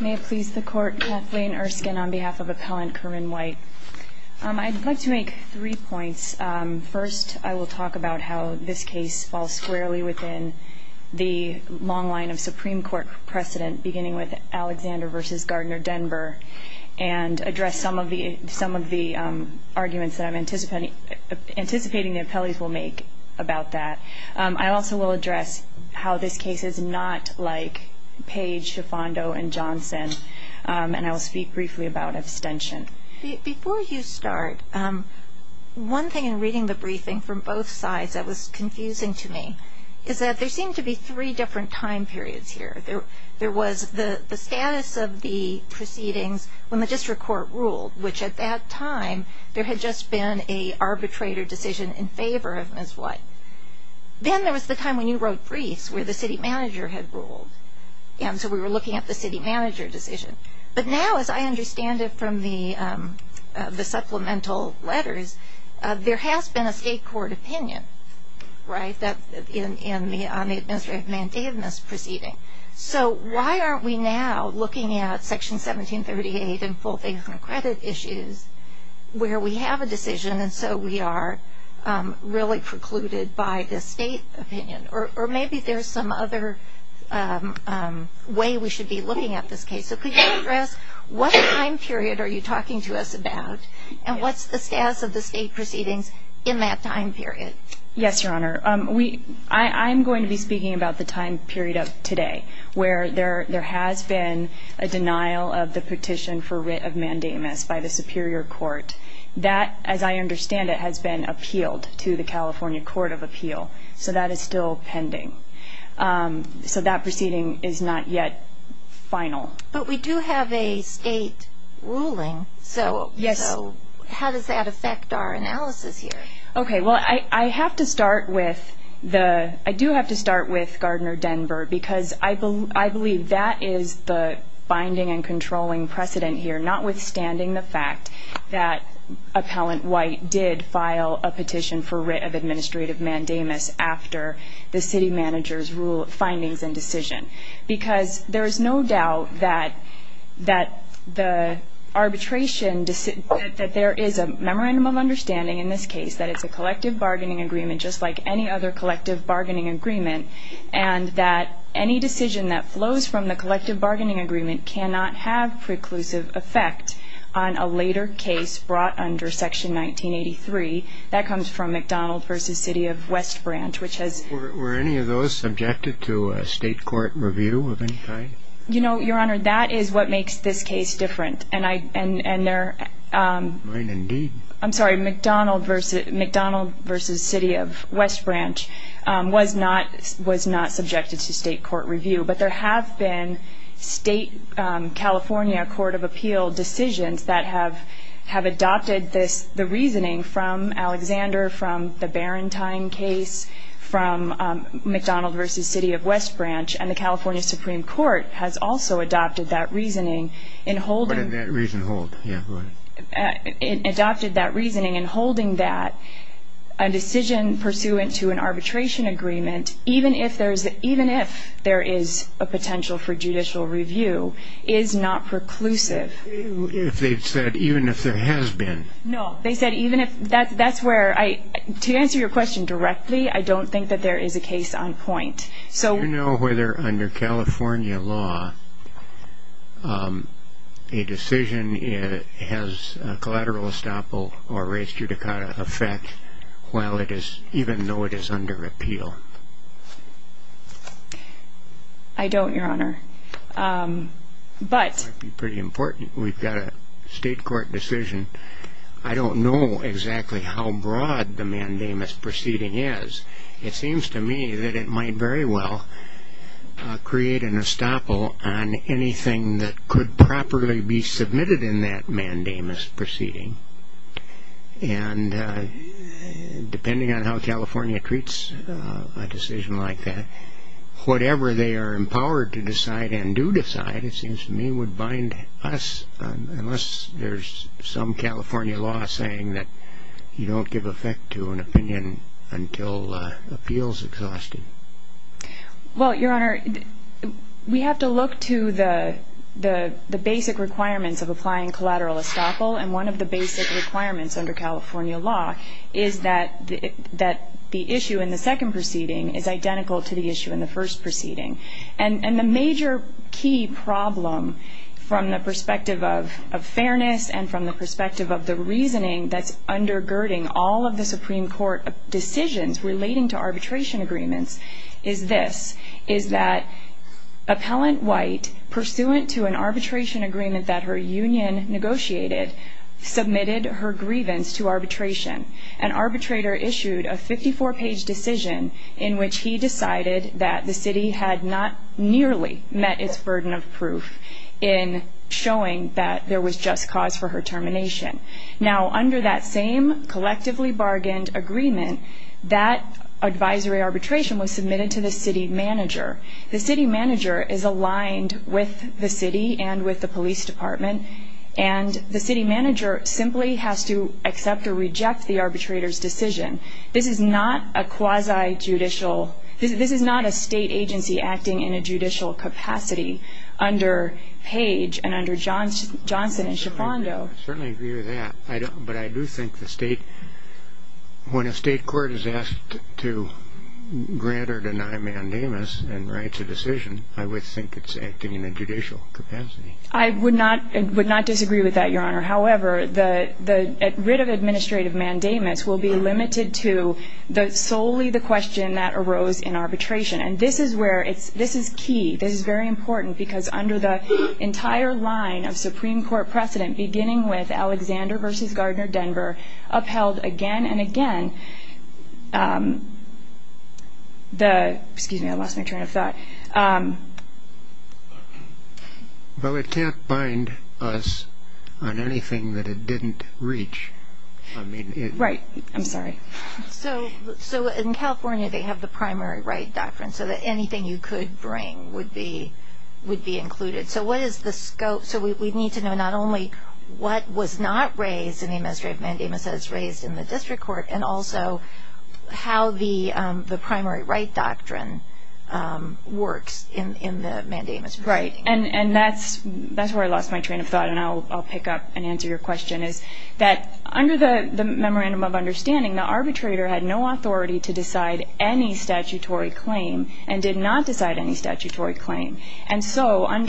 May it please the Court, Kathleen Erskine on behalf of Appellant Kerman White. I'd like to make three points. First, I will talk about how this case falls squarely within the long line of Supreme Court precedent, beginning with Alexander v. Gardner-Denver, and address some of the arguments that I'm anticipating the appellees will make about that. I also will address how this case is not like Page, Schifondo, and Johnson, and I will speak briefly about abstention. Before you start, one thing in reading the briefing from both sides that was confusing to me is that there seemed to be three different time periods here. There was the status of the proceedings when the district court ruled, which at that time there had just been an arbitrator decision in favor of Ms. White. Then there was the time when you wrote briefs where the city manager had ruled, and so we were looking at the city manager decision. But now, as I understand it from the supplemental letters, there has been a state court opinion, right, on the administrative mandate in this proceeding. So why aren't we now looking at Section 1738 and full faith and credit issues where we have a decision and so we are really precluded by the state opinion? Or maybe there's some other way we should be looking at this case. So could you address what time period are you talking to us about, and what's the status of the state proceedings in that time period? Yes, Your Honor. I'm going to be speaking about the time period of today where there has been a denial of the petition for writ of mandamus by the Superior Court. That, as I understand it, has been appealed to the California Court of Appeal, so that is still pending. So that proceeding is not yet final. But we do have a state ruling, so how does that affect our analysis here? Okay, well, I do have to start with Gardner-Denver because I believe that is the binding and controlling precedent here, notwithstanding the fact that Appellant White did file a petition for writ of administrative mandamus after the city manager's findings and decision. Because there is no doubt that there is a memorandum of understanding in this case that it's a collective bargaining agreement, just like any other collective bargaining agreement, and that any decision that flows from the collective bargaining agreement cannot have preclusive effect on a later case brought under Section 1983. That comes from McDonald v. City of West Branch, which has ---- Were any of those subjected to a state court review of any kind? You know, Your Honor, that is what makes this case different. Mine, indeed. I'm sorry, McDonald v. City of West Branch was not subjected to state court review. But there have been state California Court of Appeal decisions that have adopted the reasoning from Alexander, from the Barentine case, from McDonald v. City of West Branch, and the California Supreme Court has also adopted that reasoning in holding ---- What did that reasoning hold? Yeah, go ahead. Adopted that reasoning in holding that a decision pursuant to an arbitration agreement, even if there is a potential for judicial review, is not preclusive. If they've said even if there has been. No, they said even if ---- That's where I ---- To answer your question directly, I don't think that there is a case on point. Do you know whether, under California law, a decision has collateral estoppel or res judicata effect even though it is under appeal? I don't, Your Honor, but ---- That might be pretty important. We've got a state court decision. I don't know exactly how broad the mandamus proceeding is. It seems to me that it might very well create an estoppel on anything that could properly be submitted in that mandamus proceeding, and depending on how California treats a decision like that, whatever they are empowered to decide and do decide, it seems to me, would bind us unless there's some California law saying that you don't give effect to an opinion until appeal is exhausted. Well, Your Honor, we have to look to the basic requirements of applying collateral estoppel, and one of the basic requirements under California law is that the issue in the second proceeding is identical to the issue in the first proceeding. And the major key problem from the perspective of fairness and from the perspective of the reasoning that's undergirding all of the Supreme Court decisions relating to arbitration agreements is this, is that Appellant White, pursuant to an arbitration agreement that her union negotiated, submitted her grievance to arbitration. An arbitrator issued a 54-page decision in which he decided that the city had not nearly met its burden of proof in showing that there was just cause for her termination. Now, under that same collectively bargained agreement, that advisory arbitration was submitted to the city manager. The city manager is aligned with the city and with the police department, and the city manager simply has to accept or reject the arbitrator's decision. This is not a quasi-judicial, this is not a state agency acting in a judicial capacity under Page and under Johnson and Schifando. I certainly agree with that, but I do think the state, when a state court is asked to grant or deny mandamus and writes a decision, I would think it's acting in a judicial capacity. I would not disagree with that, Your Honor. However, the writ of administrative mandamus will be limited to solely the question that arose in arbitration. And this is key, this is very important, because under the entire line of Supreme Court precedent, beginning with Alexander v. Gardner-Denver, upheld again and again. Excuse me, I lost my train of thought. Well, it can't bind us on anything that it didn't reach. Right, I'm sorry. So in California they have the primary right doctrine, so that anything you could bring would be included. So what is the scope? So we need to know not only what was not raised in the administrative mandamus as raised in the district court, and also how the primary right doctrine works in the mandamus proceeding. Right, and that's where I lost my train of thought, and I'll pick up and answer your question, is that under the memorandum of understanding, the arbitrator had no authority to decide any statutory claim and did not decide any statutory claim. And so in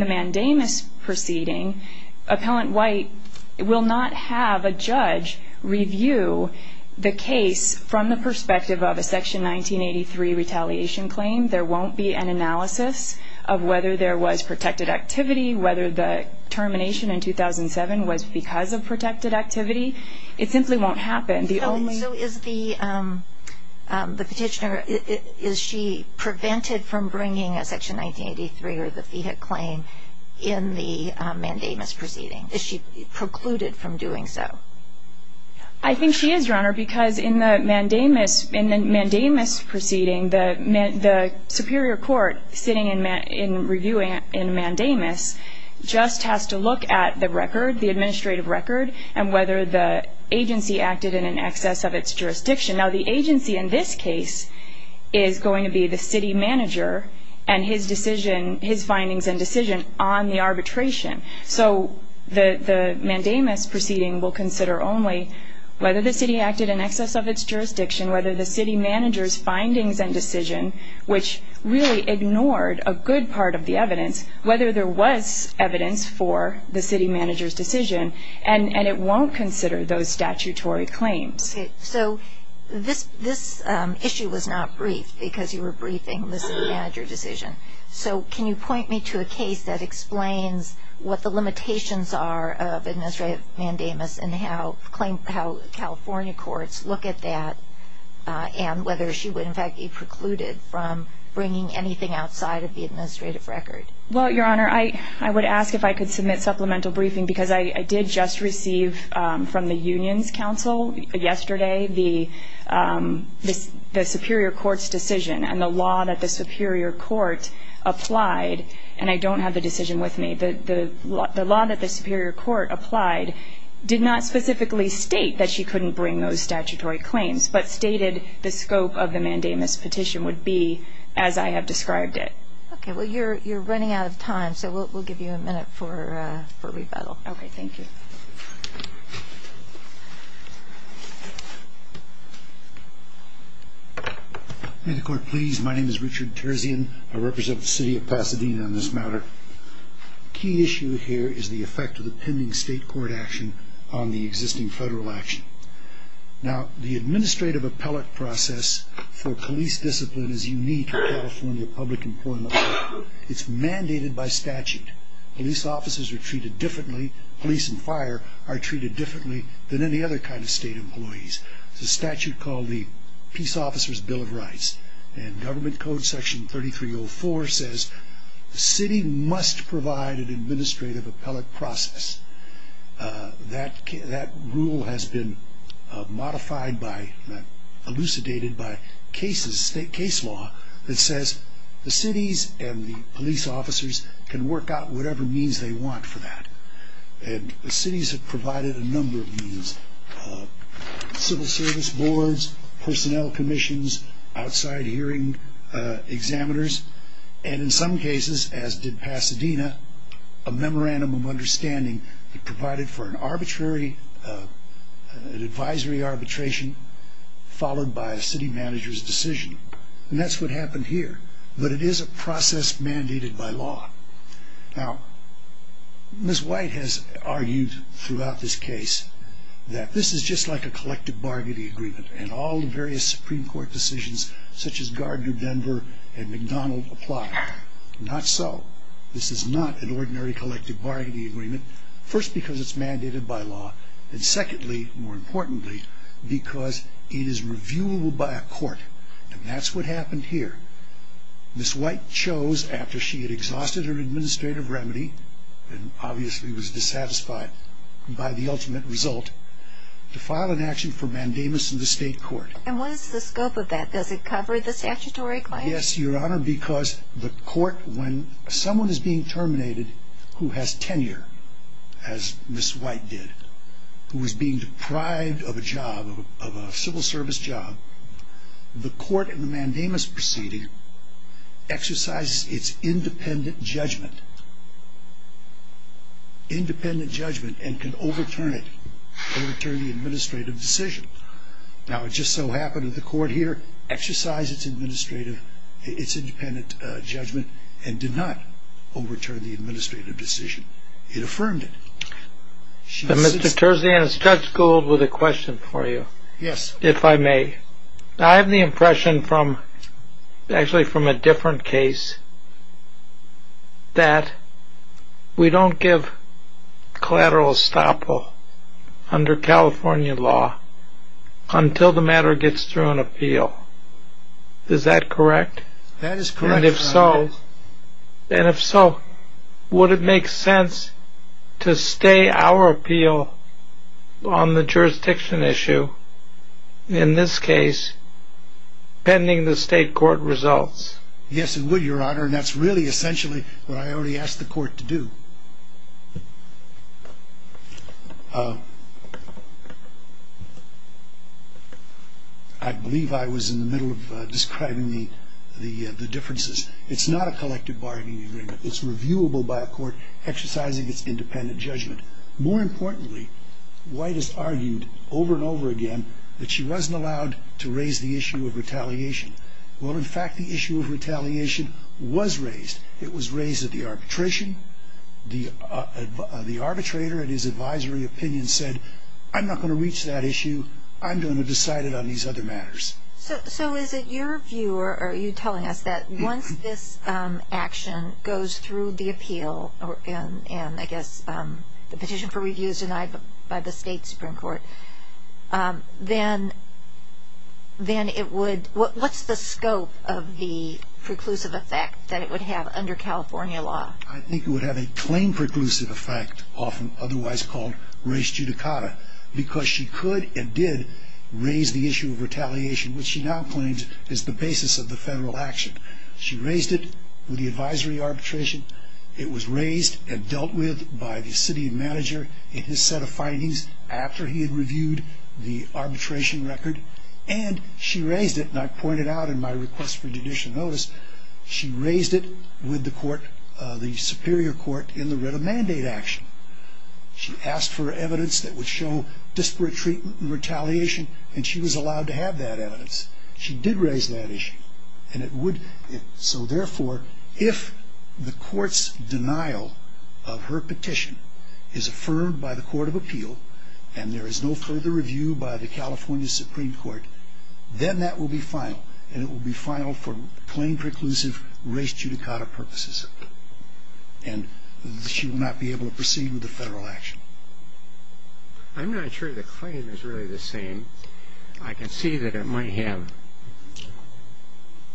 the mandamus proceeding, Appellant White will not have a judge review the case from the perspective of a Section 1983 retaliation claim. There won't be an analysis of whether there was protected activity, whether the termination in 2007 was because of protected activity. It simply won't happen. So is the petitioner, is she prevented from bringing a Section 1983 or the fee hit claim in the mandamus proceeding? Is she precluded from doing so? I think she is, Your Honor, because in the mandamus proceeding, the superior court sitting and reviewing in mandamus just has to look at the record, the administrative record, and whether the agency acted in excess of its jurisdiction. Now, the agency in this case is going to be the city manager and his findings and decision on the arbitration. So the mandamus proceeding will consider only whether the city acted in excess of its jurisdiction, whether the city manager's findings and decision, which really ignored a good part of the evidence, whether there was evidence for the city manager's decision, and it won't consider those statutory claims. So this issue was not briefed because you were briefing the city manager decision. So can you point me to a case that explains what the limitations are of administrative mandamus and how California courts look at that and whether she would, in fact, be precluded from bringing anything outside of the administrative record? Well, Your Honor, I would ask if I could submit supplemental briefing because I did just receive from the unions council yesterday the superior court's decision and the law that the superior court applied, and I don't have the decision with me. The law that the superior court applied did not specifically state that she couldn't bring those statutory claims but stated the scope of the mandamus petition would be as I have described it. Okay, well, you're running out of time, so we'll give you a minute for rebuttal. Okay, thank you. May the court please? My name is Richard Terzian. I represent the city of Pasadena on this matter. A key issue here is the effect of the pending state court action on the existing federal action. Now, the administrative appellate process for police discipline is unique to California public employment law. It's mandated by statute. Police officers are treated differently, police and fire are treated differently than any other kind of state employees. It's a statute called the Peace Officers Bill of Rights and government code section 3304 says the city must provide an administrative appellate process. That rule has been modified by, elucidated by case law that says the cities and the police officers can work out whatever means they want for that. And the cities have provided a number of means, civil service boards, personnel commissions, outside hearing examiners, and in some cases, as did Pasadena, a memorandum of understanding provided for an arbitrary, an advisory arbitration followed by a city manager's decision. And that's what happened here, but it is a process mandated by law. Now, Ms. White has argued throughout this case that this is just like a collective bargaining agreement and all the various Supreme Court decisions such as Gardner-Denver and McDonald apply. Not so. This is not an ordinary collective bargaining agreement, first because it's mandated by law, and secondly, more importantly, because it is reviewable by a court. And that's what happened here. Ms. White chose, after she had exhausted her administrative remedy and obviously was dissatisfied by the ultimate result, to file an action for mandamus in the state court. And what is the scope of that? Does it cover the statutory claim? Yes, Your Honor, because the court, when someone is being terminated who has tenure, as Ms. White did, who is being deprived of a job, of a civil service job, the court in the mandamus proceeding exercises its independent judgment, independent judgment, and can overturn it, overturn the administrative decision. Now, it just so happened that the court here exercised its independent judgment and did not overturn the administrative decision. It affirmed it. Mr. Terzian, Judge Gould has a question for you, if I may. I have the impression, actually from a different case, that we don't give collateral estoppel under California law until the matter gets through an appeal. Is that correct? That is correct, Your Honor. And if so, would it make sense to stay our appeal on the jurisdiction issue, in this case, pending the state court results? Yes, it would, Your Honor, and that's really essentially what I already asked the court to do. I believe I was in the middle of describing the differences. It's not a collective bargaining agreement. It's reviewable by a court exercising its independent judgment. More importantly, White has argued over and over again that she wasn't allowed to raise the issue of retaliation. Well, in fact, the issue of retaliation was raised. It was raised at the arbitration. The arbitrator in his advisory opinion said, I'm not going to reach that issue. I'm going to decide it on these other matters. So is it your view or are you telling us that once this action goes through the appeal and, I guess, the petition for review is denied by the state Supreme Court, then what's the scope of the preclusive effect that it would have under California law? I think it would have a claim-preclusive effect, often otherwise called res judicata, because she could and did raise the issue of retaliation, which she now claims is the basis of the federal action. She raised it with the advisory arbitration. It was raised and dealt with by the city manager in his set of findings after he had reviewed the arbitration record, and she raised it, and I pointed out in my request for judicial notice, she raised it with the court, the Superior Court, in the writ of mandate action. She asked for evidence that would show disparate treatment and retaliation, and she was allowed to have that evidence. She did raise that issue, and it would... So, therefore, if the court's denial of her petition is affirmed by the court of appeal, and there is no further review by the California Supreme Court, then that will be final, and it will be final for claim-preclusive res judicata purposes, and she will not be able to proceed with the federal action. I'm not sure the claim is really the same. I can see that it might have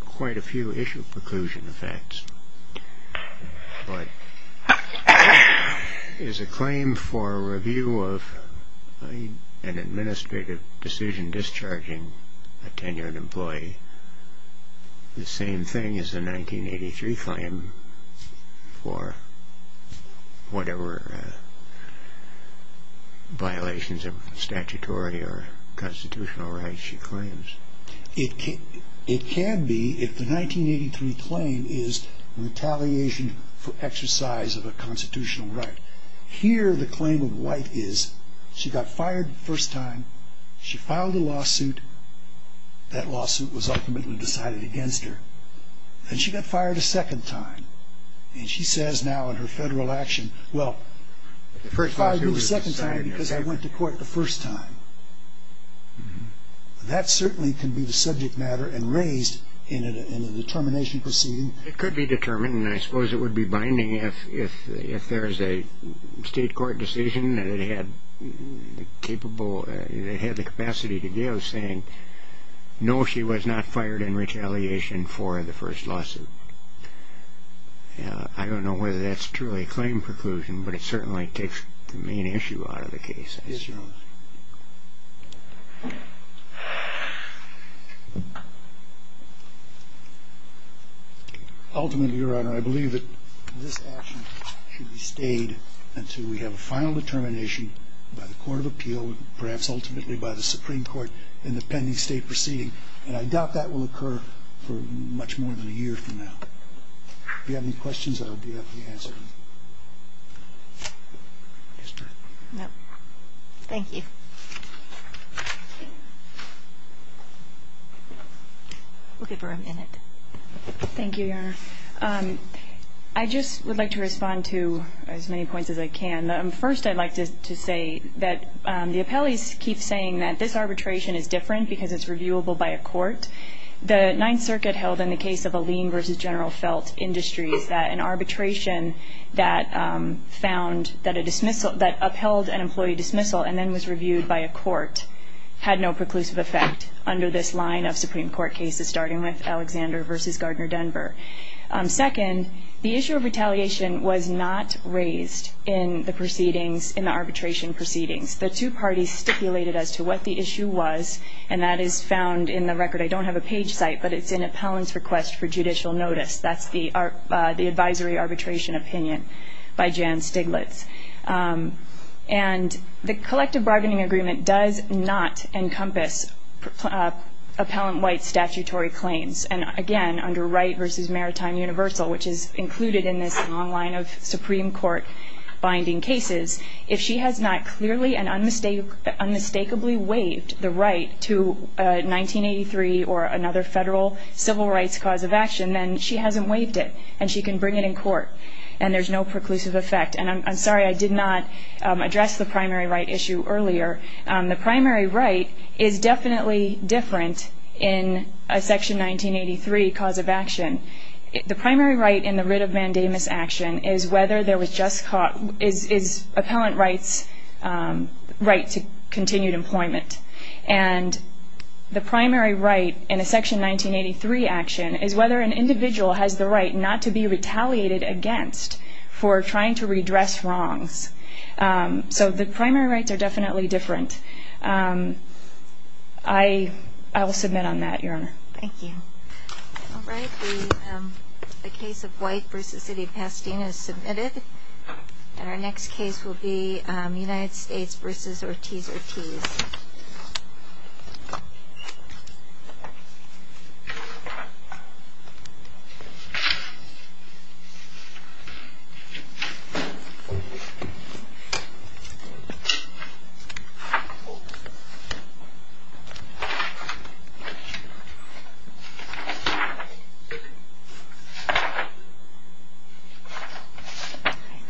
quite a few issue-preclusion effects, but is a claim for review of an administrative decision discharging a tenured employee the same thing as a 1983 claim for whatever violations of statutory or constitutional rights she claims? It can be if the 1983 claim is retaliation for exercise of a constitutional right. Here, the claim of White is she got fired the first time, she filed a lawsuit, that lawsuit was ultimately decided against her, and she got fired a second time, and she says now in her federal action, well, she fired me the second time because I went to court the first time. That certainly can be the subject matter and raised in a determination proceeding. It could be determined, and I suppose it would be binding if there is a state court decision that it had the capacity to give saying, no, she was not fired in retaliation for the first lawsuit. I don't know whether that's truly a claim-preclusion, but it certainly takes the main issue out of the case. Yes, Your Honor. Ultimately, Your Honor, I believe that this action should be stayed until we have a final determination by the Court of Appeal, and perhaps ultimately by the Supreme Court in the pending state proceeding, and I doubt that will occur for much more than a year from now. If you have any questions, I'll be happy to answer them. Yes, ma'am. No. Thank you. We'll give her a minute. Thank you, Your Honor. I just would like to respond to as many points as I can. First, I'd like to say that the appellees keep saying that this arbitration is different because it's reviewable by a court. The Ninth Circuit held in the case of Alene v. General Felt Industries that an arbitration that found that a dismissal, that upheld an employee dismissal and then was reviewed by a court, had no preclusive effect under this line of Supreme Court cases, starting with Alexander v. Gardner Denver. Second, the issue of retaliation was not raised in the proceedings, in the arbitration proceedings. The two parties stipulated as to what the issue was, and that is found in the record. I don't have a page site, but it's an appellant's request for judicial notice. That's the advisory arbitration opinion by Jan Stiglitz. And the collective bargaining agreement does not encompass appellant White's statutory claims. And, again, under Wright v. Maritime Universal, which is included in this long line of Supreme Court binding cases, if she has not clearly and unmistakably waived the right to 1983 or another federal civil rights cause of action, then she hasn't waived it and she can bring it in court and there's no preclusive effect. And I'm sorry I did not address the primary right issue earlier. The primary right is definitely different in a Section 1983 cause of action. The primary right in the writ of mandamus action is whether there was just caught is appellant Wright's right to continued employment. And the primary right in a Section 1983 action is whether an individual has the right not to be retaliated against for trying to redress wrongs. So the primary rights are definitely different. I will submit on that, Your Honor. Thank you. All right. And our next case will be United States v. Ortiz-Ortiz. Thank you.